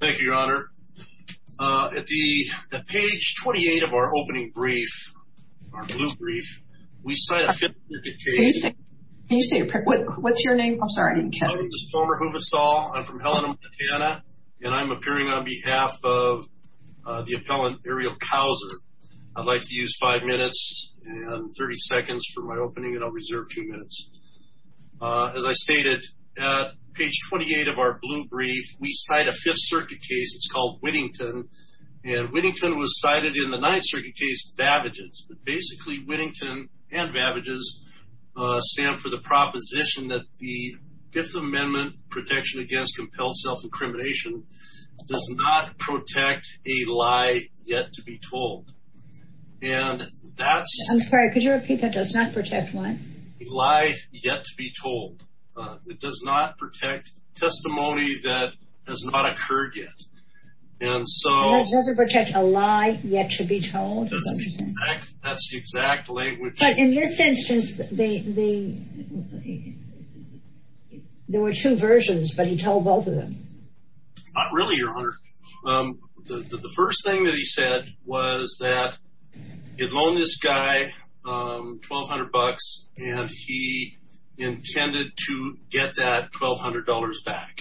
Thank you, your honor. At the page 28 of our opening brief, our blue brief, we cite a fifth-degree case. Can you say your, what's your name? I'm sorry, I didn't catch it. My name is Homer Hooversall. I'm from Helena, Montana, and I'm appearing on behalf of the appellant Arielle Cowser. I'd like to use five minutes and 30 seconds for my opening, and I'll reserve two minutes. As I stated, at page 28 of our blue brief, we cite a Fifth Circuit case. It's called Whittington. And Whittington was cited in the Ninth Circuit case, Vavages. Basically, Whittington and Vavages stand for the proposition that the Fifth Amendment protection against compelled self-incrimination does not protect a lie yet to be told. And that's... I'm sorry, could you repeat that? Does not protect what? A lie yet to be told. It does not protect testimony that has not occurred yet. And so... It doesn't protect a lie yet to be told? That's the exact language... But in this instance, there were two versions, but he told both of them. Not really, Your Honor. The first thing that he said was that he'd loaned this guy $1,200, and he intended to get that $1,200 back.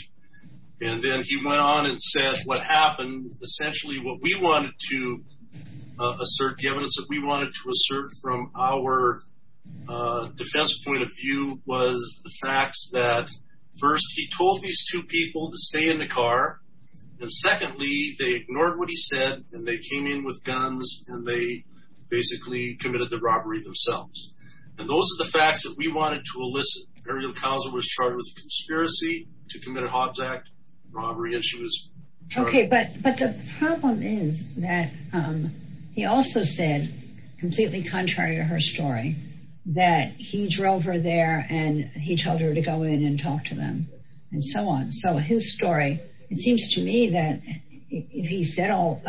And then he went on and said what happened, essentially what we wanted to assert, the evidence that we wanted to assert from our defense point of view, was the facts that, first, he told these two people to stay in the car. And secondly, they ignored what he said, and they came in with guns, and they basically committed the robbery themselves. And those are the facts that we wanted to elicit. Ariel Kauser was charged with conspiracy to commit a Hobbs Act robbery, and she was charged... Okay, but the problem is that he also said, completely contrary to her story, that he drove her there, and he told her to go in and talk to them, and so on. So his story, it seems to me that if he said all...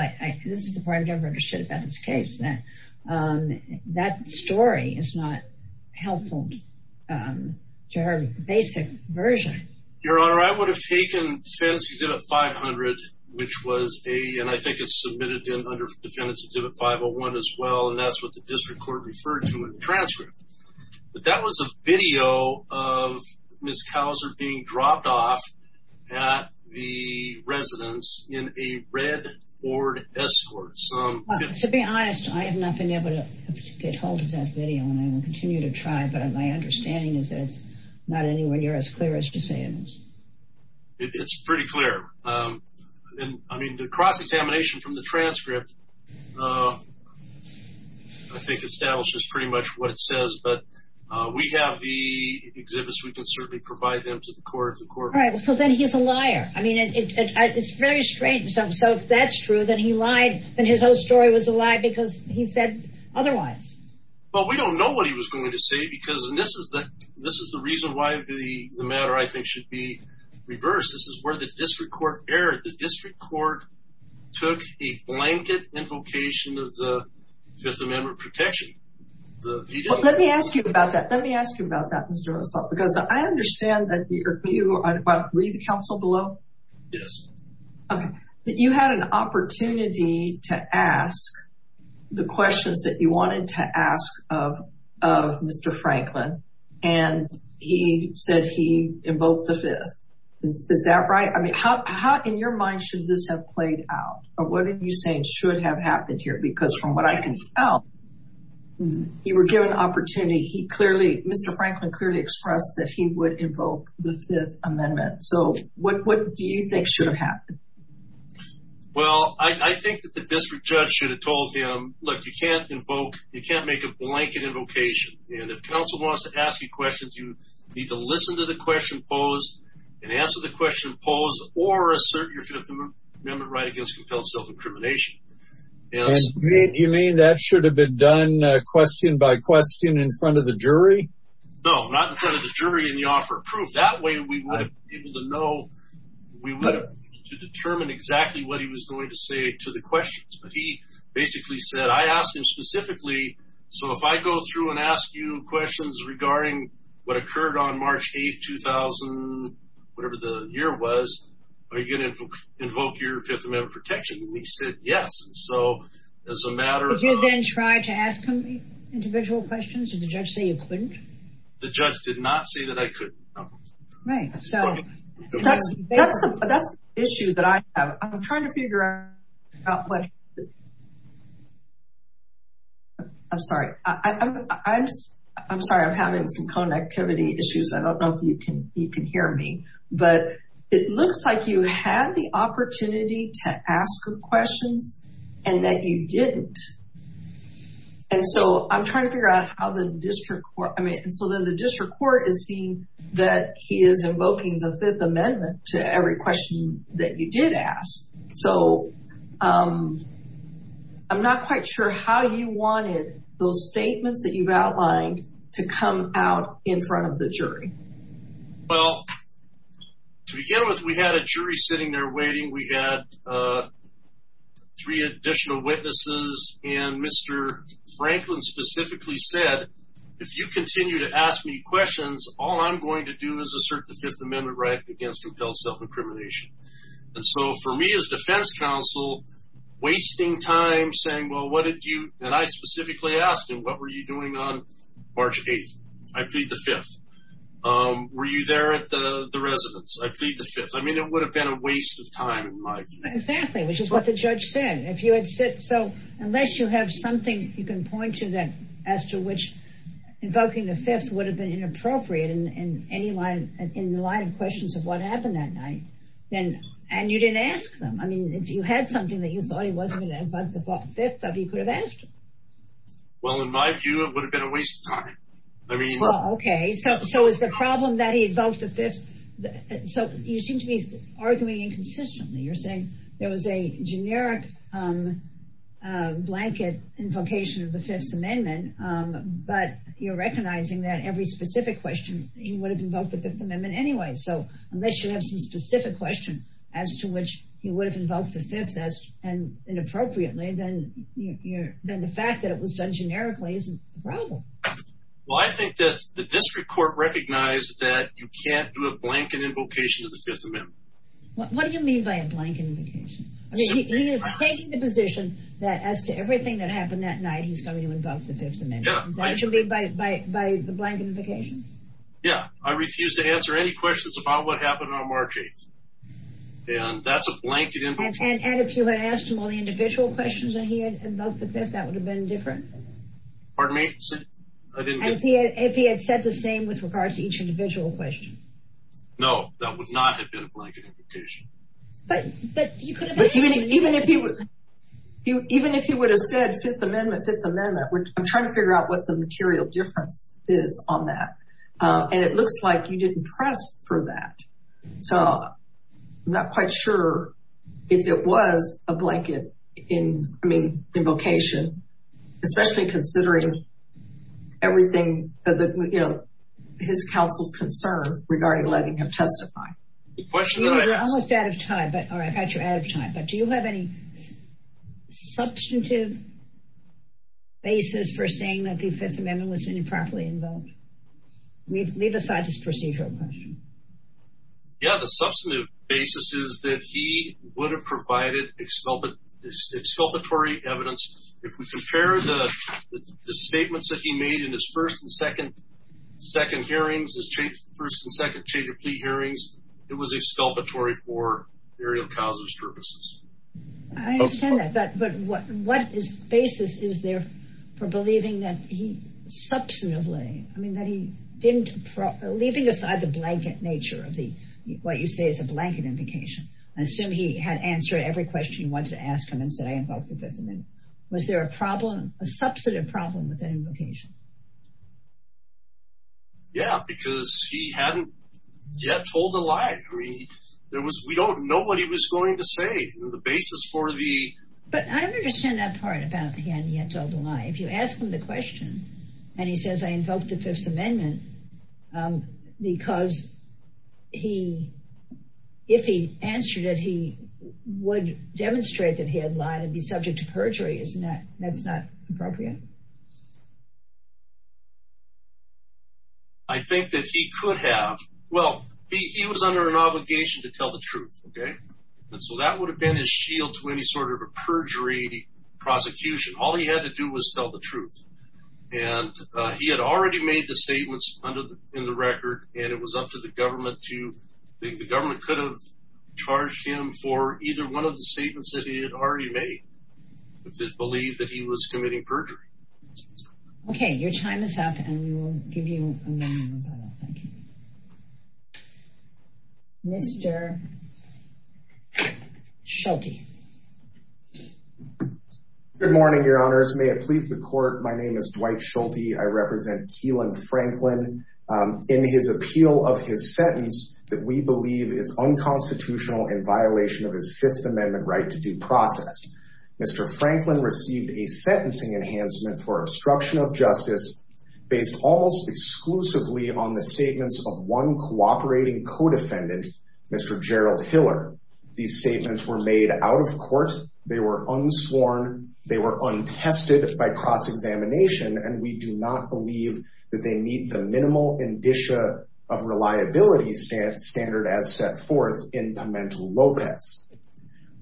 This is the part I've never understood about this case, that that story is not helpful to her basic version. Your Honor, I would have taken Defendant's Exhibit 500, which was a... And I think it's submitted under Defendant's Exhibit 501 as well, and that's what the district court referred to in the transcript. But that was a video of Ms. Kauser being dropped off at the residence in a red Ford Escort. To be honest, I have not been able to get hold of that video, and I will continue to try, but my understanding is that it's not anywhere near as clear as you say it is. It's pretty clear. I mean, the cross-examination from the transcript, I think, establishes pretty much what it says, but we have the exhibits. We can certainly provide them to the court. All right. So then he's a liar. I mean, it's very strange. So if that's true, then he lied, then his whole story was a lie because he said otherwise. Well, we don't know what he was going to say, because this is the reason why the matter, I think, should be reversed. This is where the district court erred. The district court took a blanket invocation of the Fifth Amendment protection. Let me ask you about that. Let me ask you about that, Mr. Russell, because I understand that you had an opportunity to ask the questions that you wanted to ask of Mr. Franklin, and he said he invoked the Fifth. Is that right? I mean, how in your mind should this have played out, or what are you saying should have happened here? Because from what I can tell, you were given an opportunity. Mr. Franklin clearly expressed that he would invoke the Fifth Amendment. So what do you think should have happened? Well, I think that the district judge should have told him, look, you can't make a blanket invocation. And if counsel wants to ask you questions, you need to listen to the question posed and answer the question posed or assert your Fifth Amendment right against compelled self-incrimination. And you mean that should have been done question by question in front of the jury? No, not in front of the jury in the offer of proof. That way we would have been able to know, we would have been able to determine exactly what he was going to say to the questions. But he basically said, I asked him specifically, so if I go through and ask you questions regarding what occurred on March 8, 2000, whatever the year was, are you going to invoke your Fifth Amendment protection? And he said, yes. Did you then try to ask him individual questions? Did the judge say you couldn't? The judge did not say that I couldn't. Right. So that's the issue that I have. I'm trying to figure out what. I'm sorry, I'm sorry, I'm having some connectivity issues. I don't know if you can hear me, but it looks like you had the opportunity to ask him questions and that you didn't. And so I'm trying to figure out how the district court, I mean, and so then the district court is seeing that he is invoking the Fifth Amendment to every question that you did ask. So I'm not quite sure how you wanted those statements that you've outlined to come out in front of the jury. Well, to begin with, we had a jury sitting there waiting. We had three additional witnesses. And Mr. Franklin specifically said, if you continue to ask me questions, all I'm going to do is assert the Fifth Amendment right against compelled self-incrimination. And so for me as defense counsel, wasting time saying, well, what did you and I specifically asked him, what were you doing on March 8th? I plead the Fifth. Were you there at the residence? I plead the Fifth. I mean, it would have been a waste of time in my view. Exactly, which is what the judge said. So unless you have something you can point to that as to which invoking the Fifth would have been inappropriate in the line of questions of what happened that night, and you didn't ask them. I mean, if you had something that you thought he wasn't going to invoke the Fifth of, you could have asked him. Well, in my view, it would have been a waste of time. Okay, so is the problem that he invoked the Fifth? So you seem to be arguing inconsistently. You're saying there was a generic blanket invocation of the Fifth Amendment, but you're recognizing that every specific question he would have invoked the Fifth Amendment anyway. So unless you have some specific question as to which he would have invoked the Fifth inappropriately, then the fact that it was done generically isn't the problem. Well, I think that the district court recognized that you can't do a blanket invocation of the Fifth Amendment. What do you mean by a blanket invocation? I mean, he is taking the position that as to everything that happened that night, he's going to invoke the Fifth Amendment. Is that what you mean by the blanket invocation? Yeah, I refuse to answer any questions about what happened on March 8th. And that's a blanket invocation. And if you had asked him all the individual questions that he had invoked the Fifth, that would have been different? And if he had said the same with regards to each individual question? No, that would not have been a blanket invocation. But even if he would have said Fifth Amendment, Fifth Amendment, I'm trying to figure out what the material difference is on that. And it looks like you didn't press for that. So I'm not quite sure if it was a blanket invocation, especially considering everything, you know, his counsel's concern regarding letting him testify. We're almost out of time, but do you have any substantive basis for saying that the Fifth Amendment was improperly invoked? Leave aside this procedural question. Yeah, the substantive basis is that he would have provided exculpatory evidence. If we compare the statements that he made in his first and second hearings, his first and second plea hearings, it was exculpatory for burial causes purposes. I understand that, but what basis is there for believing that he substantively, I mean, that he didn't, leaving aside the blanket nature of what you say is a blanket invocation. I assume he had answered every question you wanted to ask him and said, I invoked the Fifth Amendment. Was there a problem, a substantive problem with that invocation? Yeah, because he hadn't yet told a lie. I mean, there was, we don't know what he was going to say. But I don't understand that part about he hadn't yet told a lie. If you ask him the question and he says, I invoked the Fifth Amendment, because he, if he answered it, he would demonstrate that he had lied and be subject to perjury. Isn't that, that's not appropriate? I think that he could have, well, he was under an obligation to tell the truth. Okay. And so that would have been his shield to any sort of a perjury prosecution. All he had to do was tell the truth. And he had already made the statements under the, in the record, and it was up to the government to, the government could have charged him for either one of the statements that he had already made. If it's believed that he was committing perjury. Okay, your time is up and we will give you a moment. Thank you. Mr. Schulte. Good morning, your honors. May it please the court. My name is Dwight Schulte. I represent Keelan Franklin in his appeal of his sentence that we believe is unconstitutional in violation of his Fifth Amendment right to due process. Mr. Franklin received a sentencing enhancement for obstruction of justice based almost exclusively on the statements of one cooperating co-defendant, Mr. Gerald Hiller. These statements were made out of court. They were unsworn. They were untested by cross-examination, and we do not believe that they meet the minimal indicia of reliability standard as set forth in Pimentel Lopez.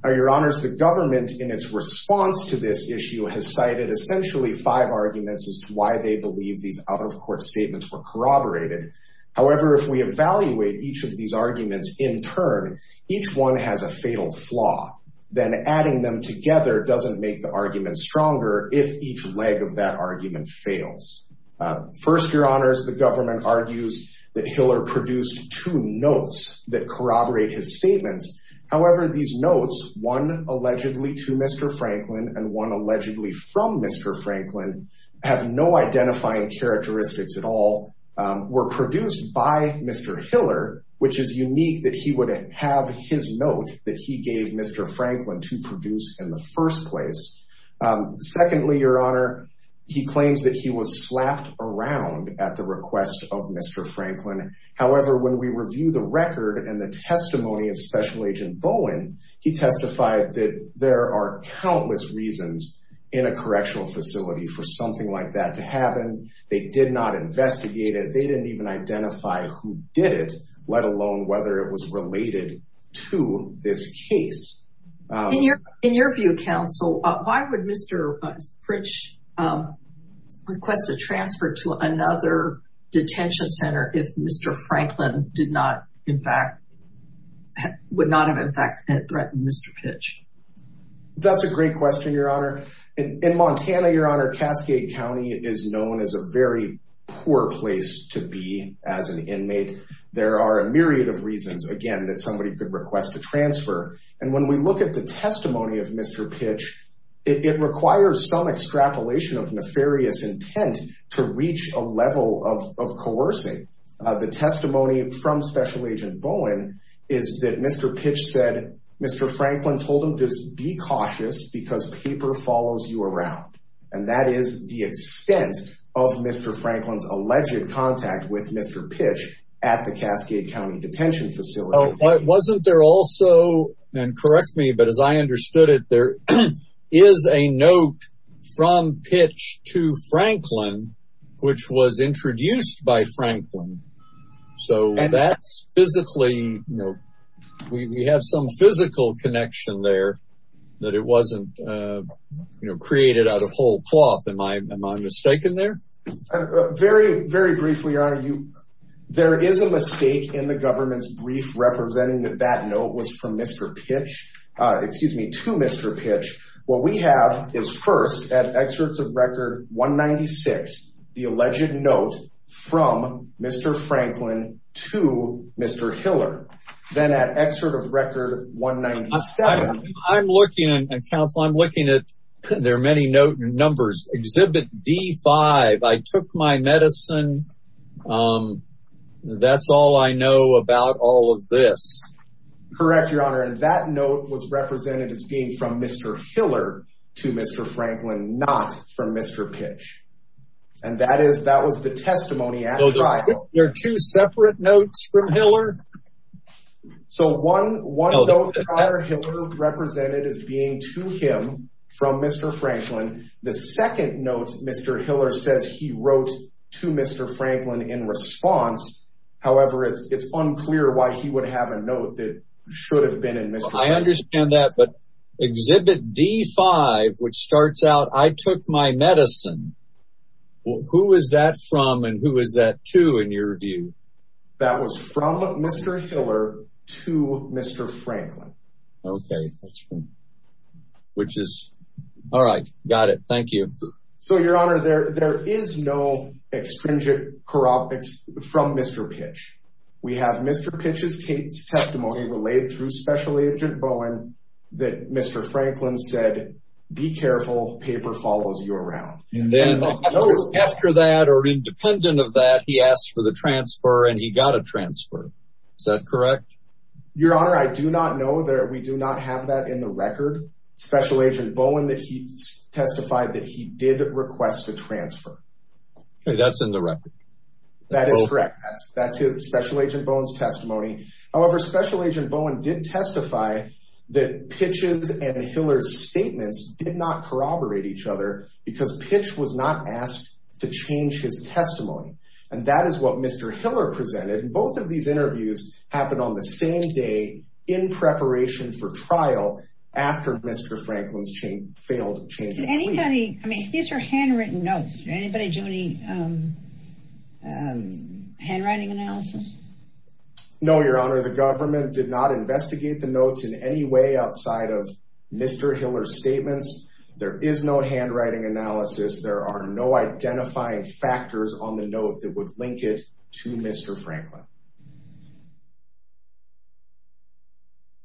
Your honors, the government in its response to this issue has cited essentially five arguments as to why they believe these out-of-court statements were corroborated. However, if we evaluate each of these arguments in turn, each one has a fatal flaw. Then adding them together doesn't make the argument stronger if each leg of that argument fails. First, your honors, the government argues that Hiller produced two notes that corroborate his statements. However, these notes, one allegedly to Mr. Franklin and one allegedly from Mr. Franklin, have no identifying characteristics at all, were produced by Mr. Hiller, which is unique that he would have his note that he gave Mr. Franklin to produce in the first place. Secondly, your honor, he claims that he was slapped around at the request of Mr. Franklin. However, when we review the record and the testimony of Special Agent Bowen, he testified that there are countless reasons in a correctional facility for something like that to happen. They did not investigate it. They didn't even identify who did it, let alone whether it was related to this case. In your view, counsel, why would Mr. Pritch request a transfer to another detention center if Mr. Franklin would not have in fact threatened Mr. Pritch? That's a great question, your honor. In Montana, your honor, Cascade County is known as a very poor place to be as an inmate. There are a myriad of reasons, again, that somebody could request a transfer. And when we look at the testimony of Mr. Pritch, it requires some extrapolation of nefarious intent to reach a level of coercing. The testimony from Special Agent Bowen is that Mr. Pritch said Mr. Franklin told him to be cautious because paper follows you around. And that is the extent of Mr. Franklin's alleged contact with Mr. Pritch at the Cascade County Detention Facility. Wasn't there also, and correct me, but as I understood it, there is a note from Pritch to Franklin, which was introduced by Franklin. So that's physically, you know, we have some physical connection there that it wasn't created out of whole cloth. Am I mistaken there? Very, very briefly, your honor. There is a mistake in the government's brief representing that that note was from Mr. Pritch, excuse me, to Mr. Pritch. What we have is first, at excerpts of record 196, the alleged note from Mr. Franklin to Mr. Hiller. Then at excerpt of record 197... Counsel, I'm looking at, there are many note numbers. Exhibit D5, I took my medicine, that's all I know about all of this. Correct, your honor. And that note was represented as being from Mr. Hiller to Mr. Franklin, not from Mr. Pritch. And that was the testimony at trial. There are two separate notes from Hiller? So one note from Hiller represented as being to him from Mr. Franklin. The second note, Mr. Hiller says he wrote to Mr. Franklin in response. However, it's unclear why he would have a note that should have been in Mr. Franklin. I understand that, but exhibit D5, which starts out, I took my medicine. Who is that from and who is that to in your view? That was from Mr. Hiller to Mr. Franklin. Okay, which is, all right, got it, thank you. So your honor, there is no extrinsic corruption from Mr. Pritch. We have Mr. Pritch's testimony relayed through Special Agent Bowen that Mr. Franklin said, be careful, paper follows you around. And then after that, or independent of that, he asked for the transfer and he got a transfer. Is that correct? Your honor, I do not know that we do not have that in the record. Special Agent Bowen that he testified that he did request a transfer. Okay, that's in the record. However, Special Agent Bowen did testify that Pitch's and Hiller's statements did not corroborate each other because Pitch was not asked to change his testimony. And that is what Mr. Hiller presented. Both of these interviews happened on the same day in preparation for trial after Mr. Franklin's failed change of plea. I mean, these are handwritten notes. Did anybody do any handwriting analysis? No, your honor. The government did not investigate the notes in any way outside of Mr. Hiller's statements. There is no handwriting analysis. There are no identifying factors on the note that would link it to Mr. Franklin.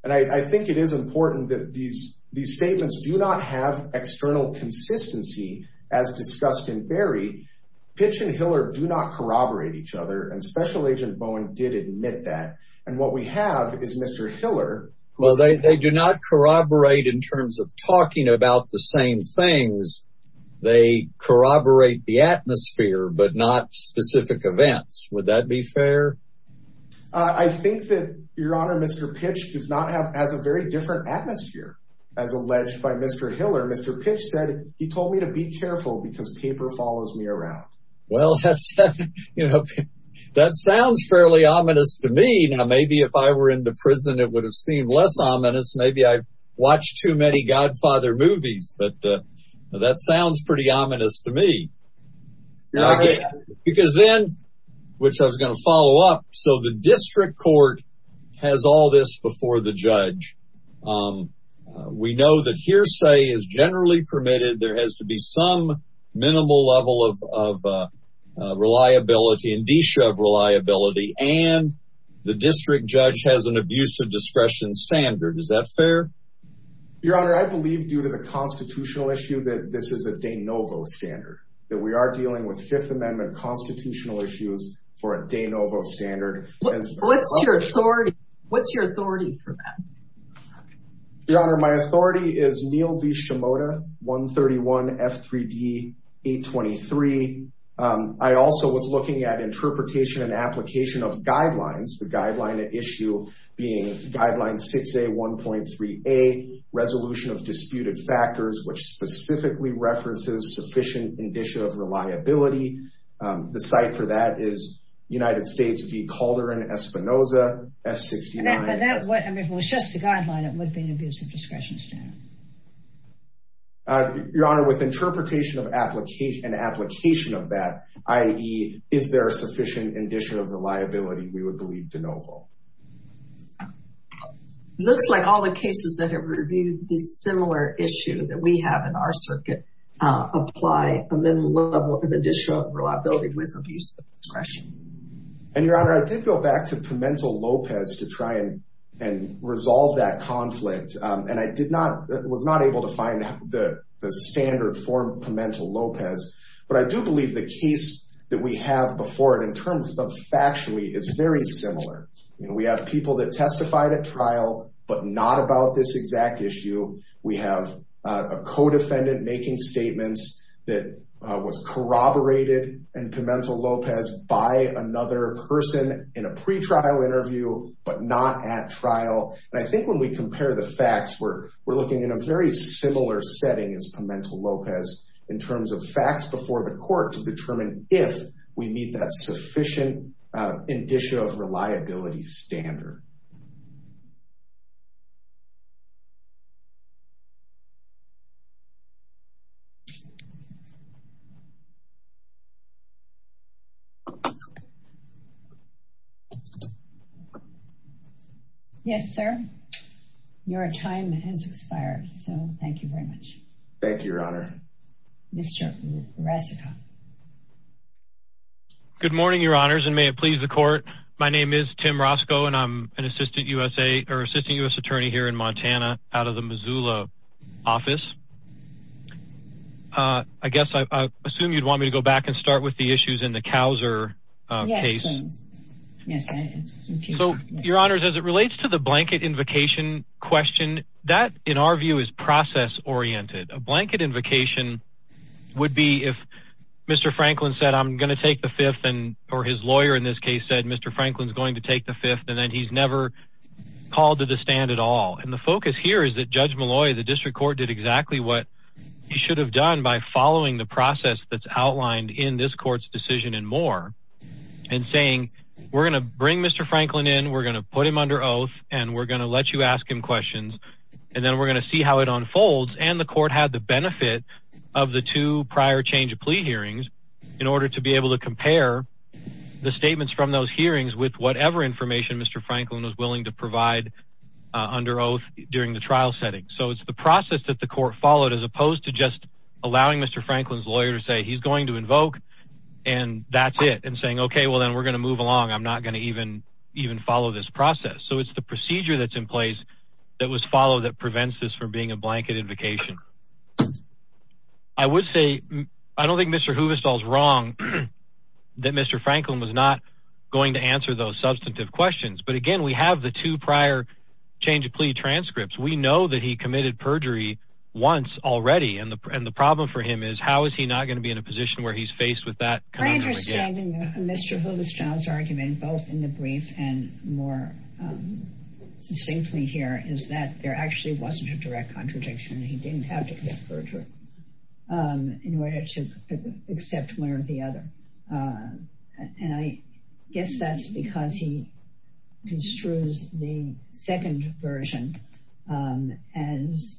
And I think it is important that these statements do not have external consistency as discussed in Berry. Pitch and Hiller do not corroborate each other. And Special Agent Bowen did admit that. And what we have is Mr. Hiller. Well, they do not corroborate in terms of talking about the same things. They corroborate the atmosphere but not specific events. Would that be fair? I think that, your honor, Mr. Pitch does not have a very different atmosphere as alleged by Mr. Hiller. Mr. Pitch said, he told me to be careful because paper follows me around. Well, that sounds fairly ominous to me. Now, maybe if I were in the prison, it would have seemed less ominous. Maybe I watched too many Godfather movies. But that sounds pretty ominous to me. Because then, which I was going to follow up, so the district court has all this before the judge. We know that hearsay is generally permitted. There has to be some minimal level of reliability and de-shove reliability. And the district judge has an abuse of discretion standard. Is that fair? Your honor, I believe due to the constitutional issue that this is a de novo standard. That we are dealing with Fifth Amendment constitutional issues for a de novo standard. What's your authority for that? Your honor, my authority is Neal v. Shimoda, 131 F3D 823. I also was looking at interpretation and application of guidelines. The guideline at issue being guideline 6A 1.3A. Resolution of disputed factors, which specifically references sufficient indicia of reliability. The site for that is United States v. Calderon Espinosa, F69. If it was just the guideline, it would be an abuse of discretion standard. Your honor, with interpretation and application of that, i.e. is there sufficient indicia of reliability, we would believe de novo. Looks like all the cases that have reviewed this similar issue that we have in our circuit. Apply a minimum level of indicia of reliability with abuse of discretion. Your honor, I did go back to Pimentel-Lopez to try and resolve that conflict. I was not able to find the standard for Pimentel-Lopez. But I do believe the case that we have before it in terms of factually is very similar. We have people that testified at trial, but not about this exact issue. We have a codefendant making statements that was corroborated in Pimentel-Lopez by another person in a pretrial interview, but not at trial. And I think when we compare the facts, we're looking in a very similar setting as Pimentel-Lopez in terms of facts before the court to determine if we meet that sufficient indicia of reliability standard. Yes, sir. Your time has expired. So thank you very much. Thank you, Your Honor. Mr. Roscoe. Good morning, Your Honors, and may it please the court. My name is Tim Roscoe, and I'm an assistant U.S. attorney here in Montana out of the Missoula area. I guess I assume you'd want me to go back and start with the issues in the Couser case. So, Your Honors, as it relates to the blanket invocation question, that, in our view, is process-oriented. A blanket invocation would be if Mr. Franklin said, I'm going to take the fifth, or his lawyer in this case said, Mr. Franklin's going to take the fifth, and then he's never called to the stand at all. And the focus here is that Judge Malloy, the district court, did exactly what he should have done by following the process that's outlined in this court's decision and more, and saying, we're going to bring Mr. Franklin in, we're going to put him under oath, and we're going to let you ask him questions, and then we're going to see how it unfolds. And the court had the benefit of the two prior change of plea hearings in order to be able to compare the statements from those hearings with whatever information Mr. Franklin was willing to provide under oath during the trial setting. So it's the process that the court followed as opposed to just allowing Mr. Franklin's lawyer to say, he's going to invoke, and that's it, and saying, okay, well, then we're going to move along, I'm not going to even follow this process. So it's the procedure that's in place that was followed that prevents this from being a blanket invocation. I would say, I don't think Mr. Huvestal's wrong that Mr. Franklin was not going to answer those substantive questions, but again, we have the two prior change of plea transcripts. We know that he committed perjury once already, and the problem for him is, how is he not going to be in a position where he's faced with that? My understanding of Mr. Huvestal's argument, both in the brief and more succinctly here, is that there actually wasn't a direct contradiction. He didn't have to commit perjury in order to accept one or the other. I guess that's because he construes the second version as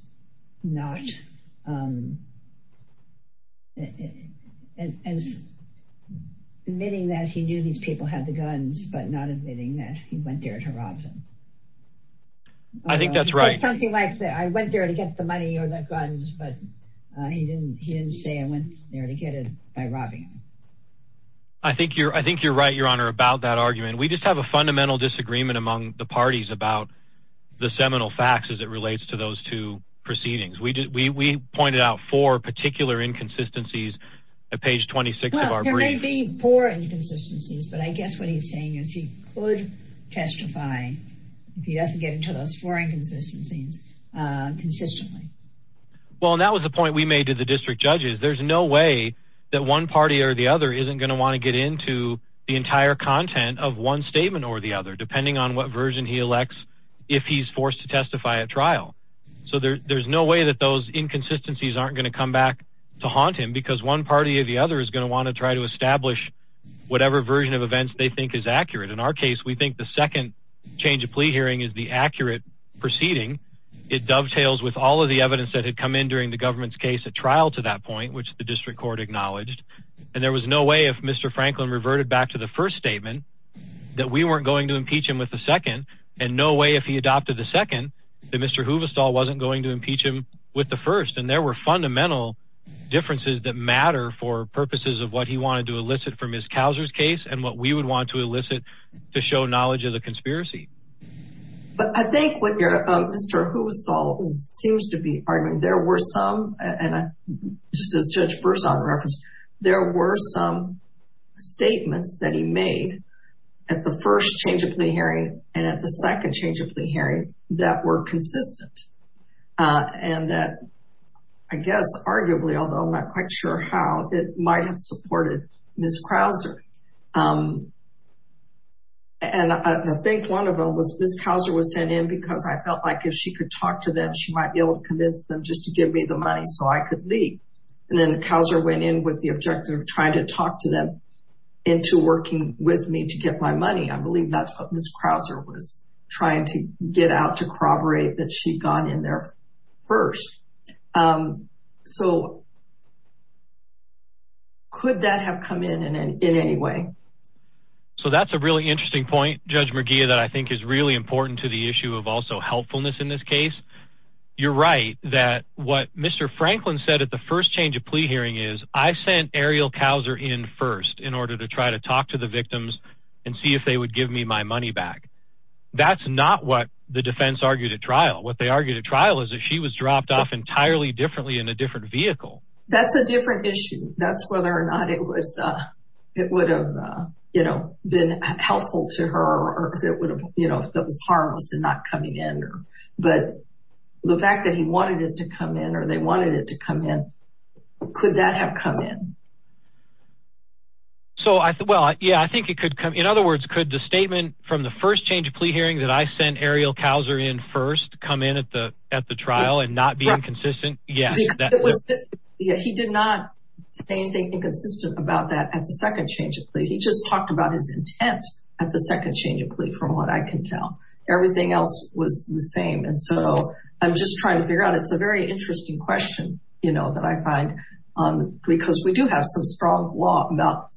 admitting that he knew these people had the guns, but not admitting that he went there to rob them. I think that's right. I went there to get the money or the guns, but he didn't say I went there to get it by robbing them. I think you're right, Your Honor, about that argument. We just have a fundamental disagreement among the parties about the seminal facts as it relates to those two proceedings. We pointed out four particular inconsistencies at page 26 of our brief. It may be four inconsistencies, but I guess what he's saying is he could testify if he doesn't get into those four inconsistencies consistently. That was the point we made to the district judges. There's no way that one party or the other isn't going to want to get into the entire content of one statement or the other, depending on what version he elects if he's forced to testify at trial. There's no way that those inconsistencies aren't going to come back to haunt him because one party or the other is going to want to try to establish whatever version of events they think is accurate. In our case, we think the second change of plea hearing is the accurate proceeding. It dovetails with all of the evidence that had come in during the government's case at trial to that point, which the district court acknowledged. And there was no way if Mr. Franklin reverted back to the first statement that we weren't going to impeach him with the second and no way if he adopted the second that Mr. Huvestal wasn't going to impeach him with the first. And there were fundamental differences that matter for purposes of what he wanted to elicit from his Couser's case and what we would want to elicit to show knowledge of the conspiracy. But I think what Mr. Huvestal seems to be arguing, there were some, and just as Judge Berzon referenced, there were some statements that he made at the first change of plea hearing and at the second change of plea hearing that were consistent. And that, I guess, arguably, although I'm not quite sure how, it might have supported Ms. Crouser. And I think one of them was Ms. Couser was sent in because I felt like if she could talk to them, she might be able to convince them just to give me the money so I could leave. And then Couser went in with the objective of trying to talk to them into working with me to get my money. I believe that's what Ms. Crouser was trying to get out to corroborate that she'd gone in there first. So could that have come in in any way? So that's a really interesting point, Judge McGeough, that I think is really important to the issue of also helpfulness in this case. You're right that what Mr. Franklin said at the first change of plea hearing is I sent Ariel Couser in first in order to try to talk to the victims and see if they would give me my money back. That's not what the defense argued at trial. What they argued at trial is that she was dropped off entirely differently in a different vehicle. That's a different issue. That's whether or not it would have been helpful to her or if it was harmless in not coming in. But the fact that he wanted it to come in or they wanted it to come in, could that have come in? In other words, could the statement from the first change of plea hearing that I sent Ariel Couser in first come in at the trial and not be inconsistent? He did not say anything inconsistent about that at the second change of plea. He just talked about his intent at the second change of plea from what I can tell. Everything else was the same. I'm just trying to figure out. It's a very interesting question that I find because we do have some strong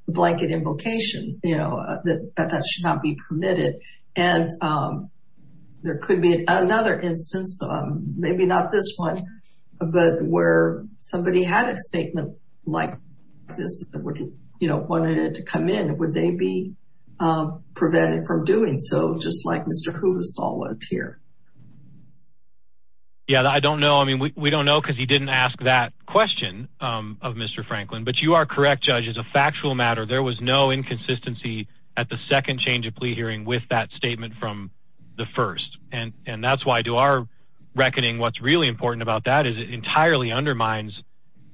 blanket invocation that that should not be permitted. There could be another instance, maybe not this one, but where somebody had a statement like this that wanted it to come in. Would they be prevented from doing so? Just like Mr. Yeah, I don't know. I mean, we don't know because he didn't ask that question of Mr. Franklin, but you are correct. Judge is a factual matter. There was no inconsistency at the second change of plea hearing with that statement from the first. And that's why I do our reckoning. What's really important about that is it entirely undermines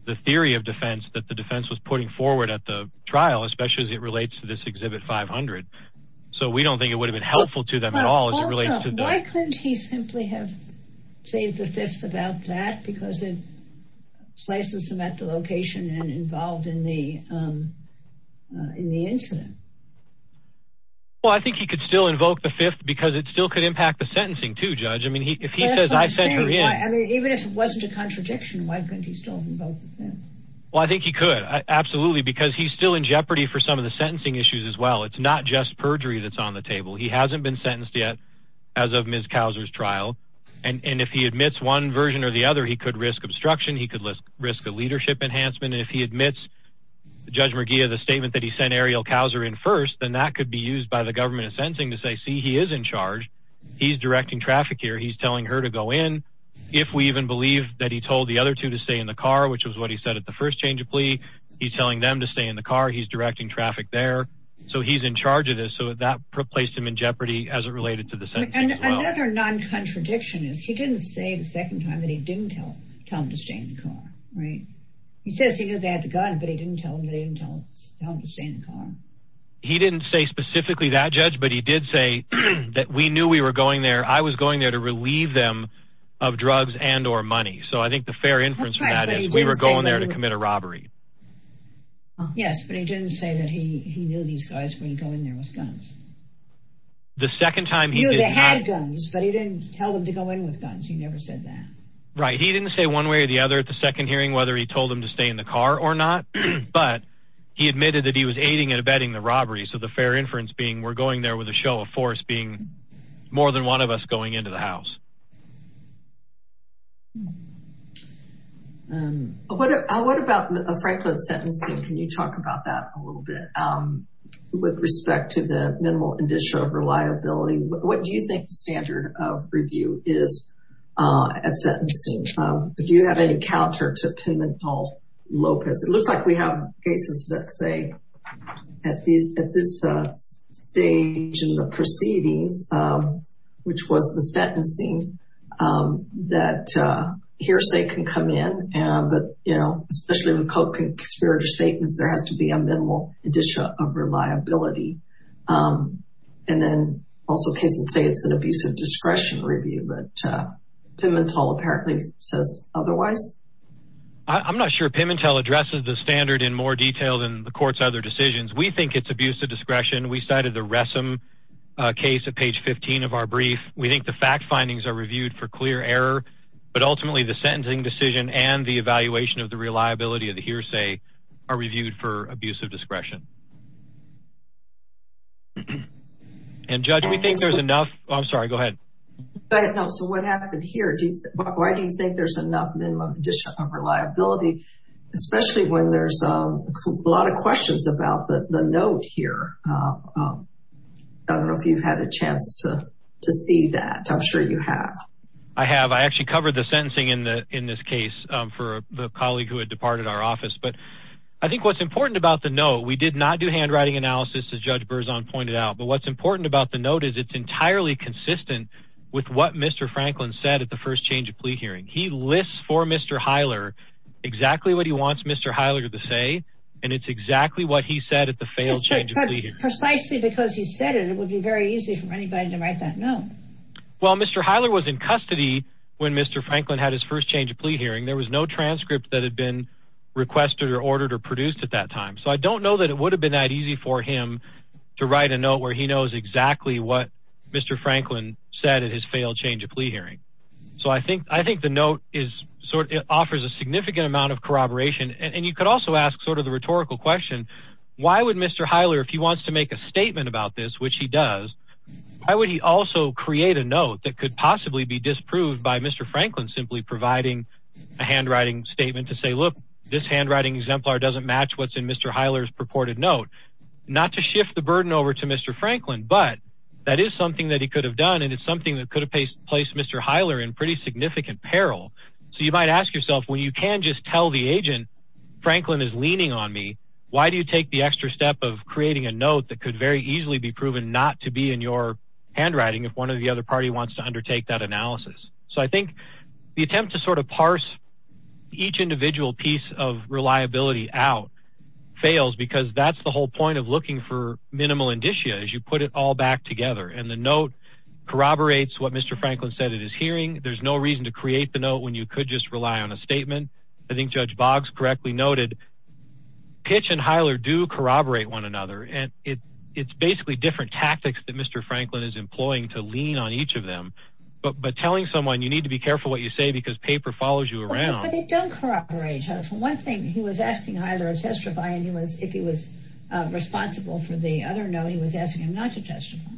the theory of defense that the defense was putting forward at the trial, especially as it relates to this exhibit 500. So we don't think it would have been helpful to them at all. Why couldn't he simply have saved the fifth about that? Because it slices him at the location and involved in the in the incident. Well, I think he could still invoke the fifth because it still could impact the sentencing to judge. I mean, if he says I said, I mean, even if it wasn't a contradiction, why couldn't he still invoke? Well, I think he could. Absolutely. Because he's still in jeopardy for some of the sentencing issues as well. It's not just perjury that's on the table. He hasn't been sentenced yet. As of Ms. Causer's trial. And if he admits one version or the other, he could risk obstruction. He could risk a leadership enhancement. And if he admits Judge McGee of the statement that he sent Ariel Couser in first, then that could be used by the government of sentencing to say, see, he is in charge. He's directing traffic here. He's telling her to go in. If we even believe that he told the other two to stay in the car, which was what he said at the first change of plea. He's telling them to stay in the car. He's directing traffic there. So he's in charge of this. So that placed him in jeopardy as it related to this. Another non-contradiction is he didn't say the second time that he didn't tell him to stay in the car. Right. He says he had the gun, but he didn't tell him that he didn't tell him to stay in the car. He didn't say specifically that, Judge. But he did say that we knew we were going there. I was going there to relieve them of drugs and or money. So I think the fair inference from that is we were going there to commit a robbery. Yes. But he didn't say that he knew these guys were going there with guns. The second time he knew they had guns, but he didn't tell them to go in with guns. He never said that. Right. He didn't say one way or the other at the second hearing whether he told them to stay in the car or not. But he admitted that he was aiding and abetting the robbery. So the fair inference being we're going there with a show of force being more than one of us going into the house. What about Franklin sentencing? Can you talk about that a little bit? With respect to the minimal indicia of reliability, what do you think standard of review is at sentencing? Do you have any counter to Pimentel-Lopez? It looks like we have cases that say at this stage in the proceedings, which was the sentencing, that hearsay can come in. But, you know, especially with co-conspirator statements, there has to be a minimal indicia of reliability. And then also cases say it's an abusive discretion review. But Pimentel apparently says otherwise. I'm not sure Pimentel addresses the standard in more detail than the court's other decisions. We think it's abusive discretion. We cited the Ressam case at page 15 of our brief. We think the fact findings are reviewed for clear error. But ultimately the sentencing decision and the evaluation of the reliability of the hearsay are reviewed for abusive discretion. And, Judge, we think there's enough. I'm sorry. Go ahead. So what happened here? Why do you think there's enough minimum indicia of reliability, especially when there's a lot of questions about the note here? I don't know if you've had a chance to see that. I'm sure you have. I have. I actually covered the sentencing in this case for the colleague who had departed our office. But I think what's important about the note, we did not do handwriting analysis, as Judge Berzon pointed out. But what's important about the note is it's entirely consistent with what Mr. Franklin said at the first change of plea hearing. He lists for Mr. Heiler exactly what he wants Mr. Heiler to say, and it's exactly what he said at the failed change of plea hearing. Precisely because he said it, it would be very easy for anybody to write that note. Well, Mr. Heiler was in custody when Mr. Franklin had his first change of plea hearing. There was no transcript that had been requested or ordered or produced at that time. So I don't know that it would have been that easy for him to write a note where he knows exactly what Mr. Franklin said at his failed change of plea hearing. So I think the note offers a significant amount of corroboration. And you could also ask sort of the rhetorical question, why would Mr. Heiler, if he wants to make a statement about this, which he does, why would he also create a note that could possibly be disproved by Mr. Franklin simply providing a handwriting statement to say, look, this handwriting exemplar doesn't match what's in Mr. Heiler's purported note? Not to shift the burden over to Mr. Franklin, but that is something that he could have done. And it's something that could have placed Mr. Heiler in pretty significant peril. So you might ask yourself, well, you can just tell the agent, Franklin is leaning on me. Why do you take the extra step of creating a note that could very easily be proven not to be in your handwriting if one of the other party wants to undertake that analysis? So I think the attempt to sort of parse each individual piece of reliability out fails, because that's the whole point of looking for minimal indicia as you put it all back together. And the note corroborates what Mr. Franklin said at his hearing. There's no reason to create the note when you could just rely on a statement. I think Judge Boggs correctly noted Pitch and Heiler do corroborate one another. And it's basically different tactics that Mr. Franklin is employing to lean on each of them. But telling someone you need to be careful what you say because paper follows you around. But they don't corroborate. For one thing, he was asking Heiler if he was responsible for the other note. He was asking him not to testify.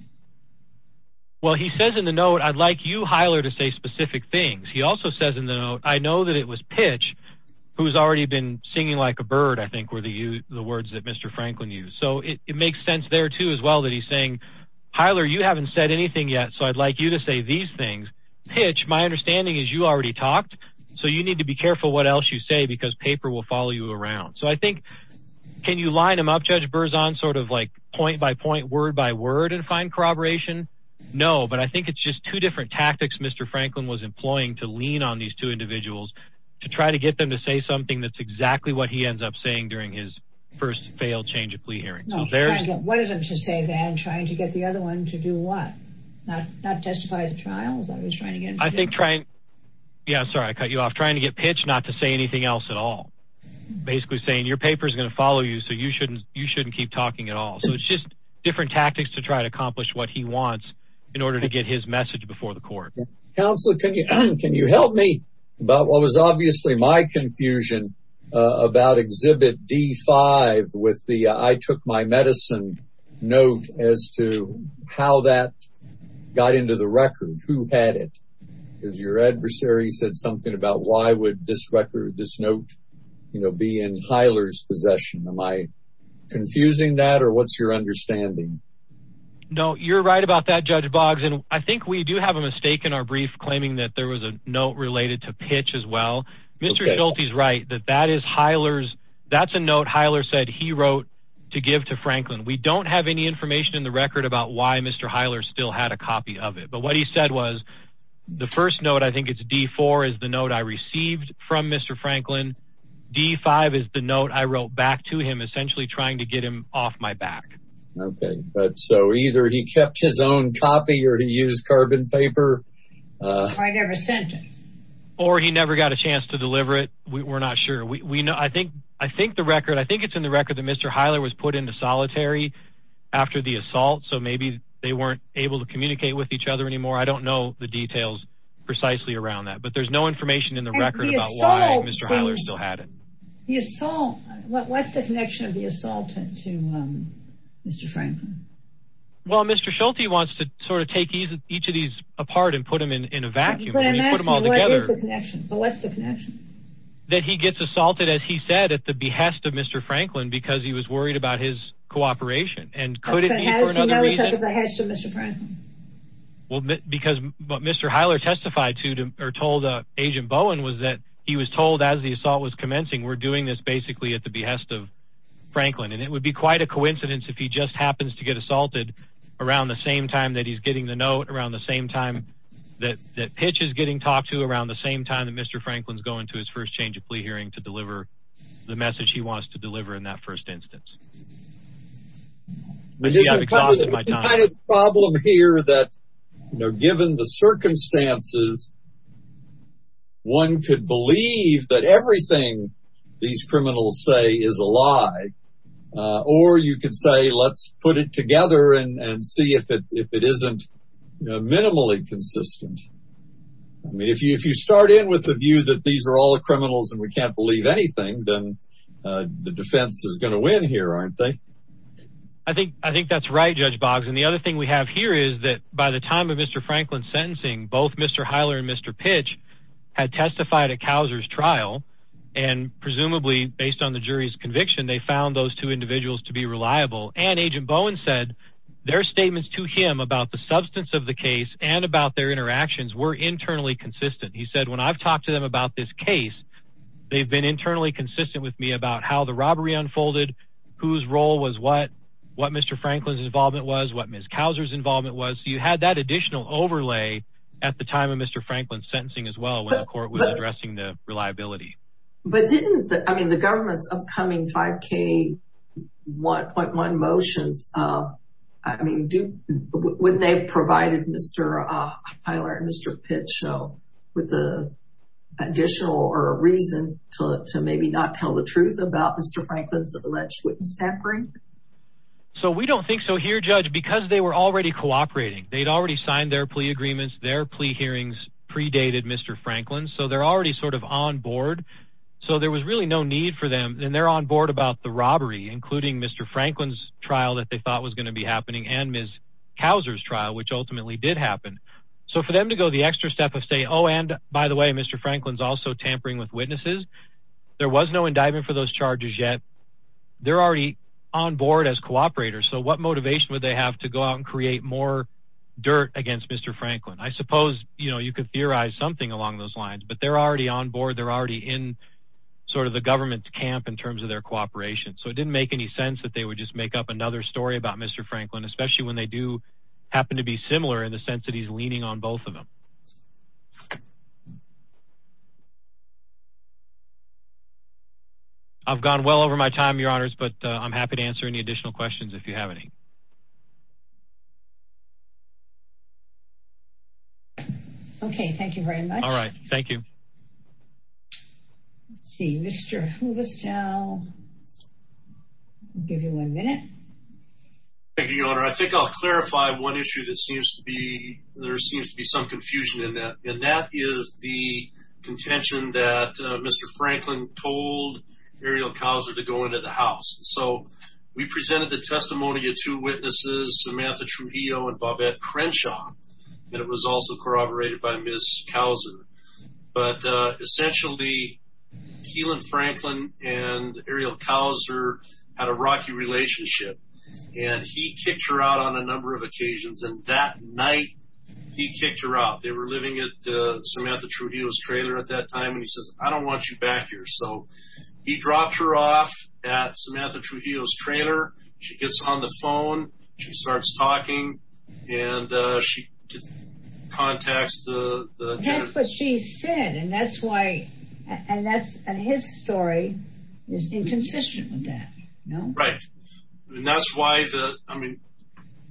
Well, he says in the note, I'd like you, Heiler, to say specific things. He also says in the note, I know that it was Pitch who's already been singing like a bird, I think, were the words that Mr. Franklin used. So it makes sense there, too, as well, that he's saying, Heiler, you haven't said anything yet, so I'd like you to say these things. Pitch, my understanding is you already talked, so you need to be careful what else you say because paper will follow you around. So I think, can you line them up, Judge Berzon, sort of like point by point, word by word and find corroboration? No, but I think it's just two different tactics Mr. Franklin was employing to lean on these two individuals to try to get them to say something that's exactly what he ends up saying during his first failed change of plea hearing. No, Franklin, what is it to say then, trying to get the other one to do what? Not testify at the trial? I think trying, yeah, sorry, I cut you off, trying to get Pitch not to say anything else at all. Basically saying, your paper's going to follow you, so you shouldn't keep talking at all. So it's just different tactics to try to accomplish what he wants in order to get his message before the court. Counselor, can you help me about what was obviously my confusion about Exhibit D5 with the, I took my medicine note as to how that got into the record, who had it? Because your adversary said something about why would this record, this note, you know, be in Hyler's possession? Am I confusing that or what's your understanding? No, you're right about that, Judge Boggs. And I think we do have a mistake in our brief claiming that there was a note related to Pitch as well. Mr. Schulte's right that that is Hyler's, that's a note Hyler said he wrote to give to Franklin. We don't have any information in the record about why Mr. Hyler still had a copy of it. But what he said was, the first note, I think it's D4, is the note I received from Mr. Franklin. D5 is the note I wrote back to him, essentially trying to get him off my back. Okay, but so either he kept his own copy or he used carbon paper. I never sent it. Or he never got a chance to deliver it. We're not sure. We know, I think, I think the record, I think it's in the record that Mr. Hyler was put into solitary after the assault. So maybe they weren't able to communicate with each other anymore. I don't know the details precisely around that, but there's no information in the record about why Mr. Hyler still had it. The assault, what's the connection of the assault to Mr. Franklin? Well, Mr. Schulte wants to sort of take each of these apart and put them in a vacuum. But I'm asking, what is the connection? What's the connection? That he gets assaulted, as he said, at the behest of Mr. Franklin because he was worried about his cooperation. And could it be for another reason? But how does he know it's at the behest of Mr. Franklin? Well, because what Mr. Hyler testified to or told Agent Bowen was that he was told as the assault was commencing, we're doing this basically at the behest of Franklin. And it would be quite a coincidence if he just happens to get assaulted around the same time that he's getting the note, around the same time that that pitch is getting talked to, around the same time that Mr. Franklin's going to his first change of plea hearing to deliver the message he wants to deliver in that first instance. Yeah, because it might not… There's a kind of problem here that, you know, given the circumstances, one could believe that everything these criminals say is a lie. Or you could say, let's put it together and see if it isn't minimally consistent. I mean, if you start in with the view that these are all criminals and we can't believe anything, then the defense is going to win here, aren't they? I think that's right, Judge Boggs. And the other thing we have here is that by the time of Mr. Franklin's sentencing, both Mr. Hyler and Mr. Pitch had testified at Couser's trial. And presumably, based on the jury's conviction, they found those two individuals to be reliable. And Agent Bowen said their statements to him about the substance of the case and about their interactions were internally consistent. He said, when I've talked to them about this case, they've been internally consistent with me about how the robbery unfolded, whose role was what, what Mr. Franklin's involvement was, what Ms. Couser's involvement was. So you had that additional overlay at the time of Mr. Franklin's sentencing as well when the court was addressing the reliability. But didn't the, I mean, the government's upcoming 5K 1.1 motions, I mean, when they provided Mr. Hyler and Mr. Pitch with the additional or a reason to maybe not tell the truth about Mr. Franklin's alleged witness tampering? So we don't think so here, Judge, because they were already cooperating. They'd already signed their plea agreements. Their plea hearings predated Mr. Franklin's. So they're already sort of on board. So there was really no need for them. And they're on board about the robbery, including Mr. Franklin's trial that they thought was going to be happening. And Ms. Couser's trial, which ultimately did happen. So for them to go the extra step of say, oh, and by the way, Mr. Franklin's also tampering with witnesses. There was no indictment for those charges yet. They're already on board as cooperators. So what motivation would they have to go out and create more dirt against Mr. Franklin? I suppose, you know, you could theorize something along those lines, but they're already on board. They're already in sort of the government's camp in terms of their cooperation. So it didn't make any sense that they would just make up another story about Mr. Franklin, especially when they do happen to be similar in the sense that he's leaning on both of them. I've gone well over my time, Your Honors, but I'm happy to answer any additional questions if you have any. Okay, thank you very much. All right, thank you. Let's see, Mr. Huberstown, I'll give you one minute. Thank you, Your Honor. I think I'll clarify one issue that seems to be, there seems to be some confusion in that. And that is the contention that Mr. Franklin told Ariel Couser to go into the house. So we presented the testimony of two witnesses, Samantha Trujillo and Bobette Crenshaw. And it was also corroborated by Ms. Cousen. But essentially, Keelan Franklin and Ariel Couser had a rocky relationship. And he kicked her out on a number of occasions. And that night, he kicked her out. They were living at Samantha Trujillo's trailer at that time. And he says, I don't want you back here. So he dropped her off at Samantha Trujillo's trailer. She gets on the phone. She starts talking. And she contacts the judge. That's what she said. And that's why, and that's, and his story is inconsistent with that. Right. And that's why the, I mean,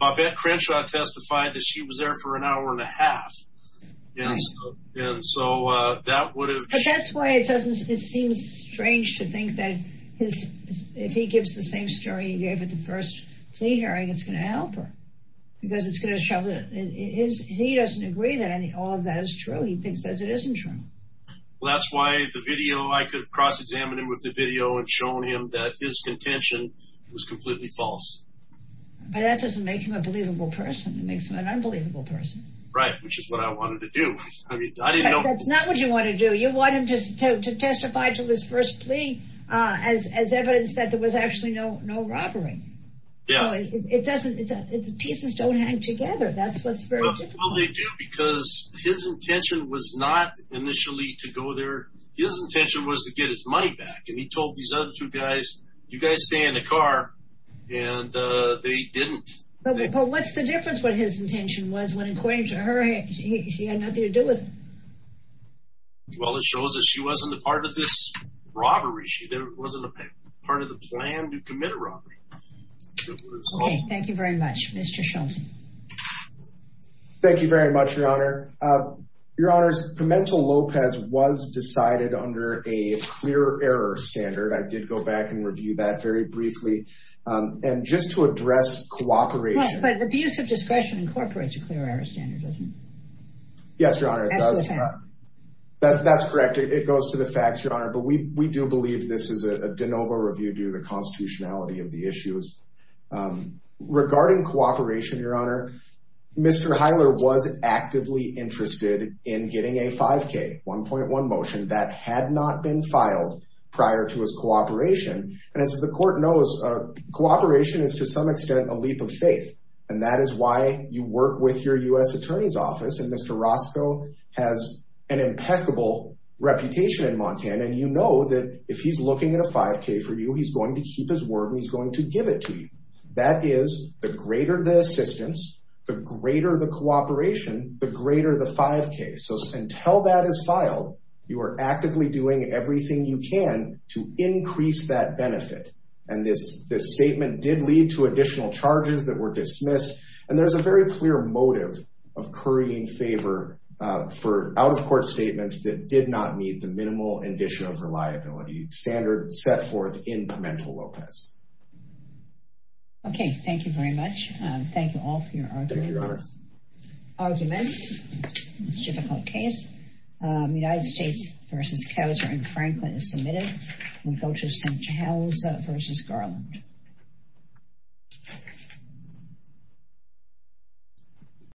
Bobette Crenshaw testified that she was there for an hour and a half. And so that would have. But that's why it seems strange to think that if he gives the same story he gave at the first plea hearing, it's going to help her. Because it's going to show that he doesn't agree that all of that is true. He thinks that it isn't true. Well, that's why the video, I could have cross-examined him with the video and shown him that his contention was completely false. But that doesn't make him a believable person. It makes him an unbelievable person. Right, which is what I wanted to do. That's not what you want to do. You want him to testify to his first plea as evidence that there was actually no robbery. Yeah. So it doesn't, the pieces don't hang together. That's what's very difficult. Well, they do because his intention was not initially to go there. His intention was to get his money back. And he told these other two guys, you guys stay in the car. And they didn't. But what's the difference what his intention was when, according to her, she had nothing to do with it? Well, it shows that she wasn't a part of this robbery. She wasn't a part of the plan to commit a robbery. Okay, thank you very much. Mr. Shultz. Thank you very much, Your Honor. Your Honors, Pimentel Lopez was decided under a clear error standard. I did go back and review that very briefly. And just to address cooperation. But abuse of discretion incorporates a clear error standard, doesn't it? Yes, Your Honor, it does. That's the fact. That's correct. It goes to the facts, Your Honor. But we do believe this is a de novo review due to the constitutionality of the issues. Regarding cooperation, Your Honor, Mr. Heiler was actively interested in getting a 5K, 1.1 motion that had not been filed prior to his cooperation. And as the court knows, cooperation is to some extent a leap of faith. And that is why you work with your U.S. Attorney's Office. And Mr. Roscoe has an impeccable reputation in Montana. And you know that if he's looking at a 5K for you, he's going to keep his word and he's going to give it to you. That is the greater the assistance, the greater the cooperation, the greater the 5K. So until that is filed, you are actively doing everything you can to increase that benefit. And this statement did lead to additional charges that were dismissed. And there's a very clear motive of currying favor for out-of-court statements that did not meet the minimal condition of reliability standard set forth in Pimentel-Lopez. Okay. Thank you very much. Thank you all for your arguments. Thank you, Your Honor. Arguments. It's a difficult case. United States v. Kauser and Franklin is submitted. We go to St. Giles v. Garland.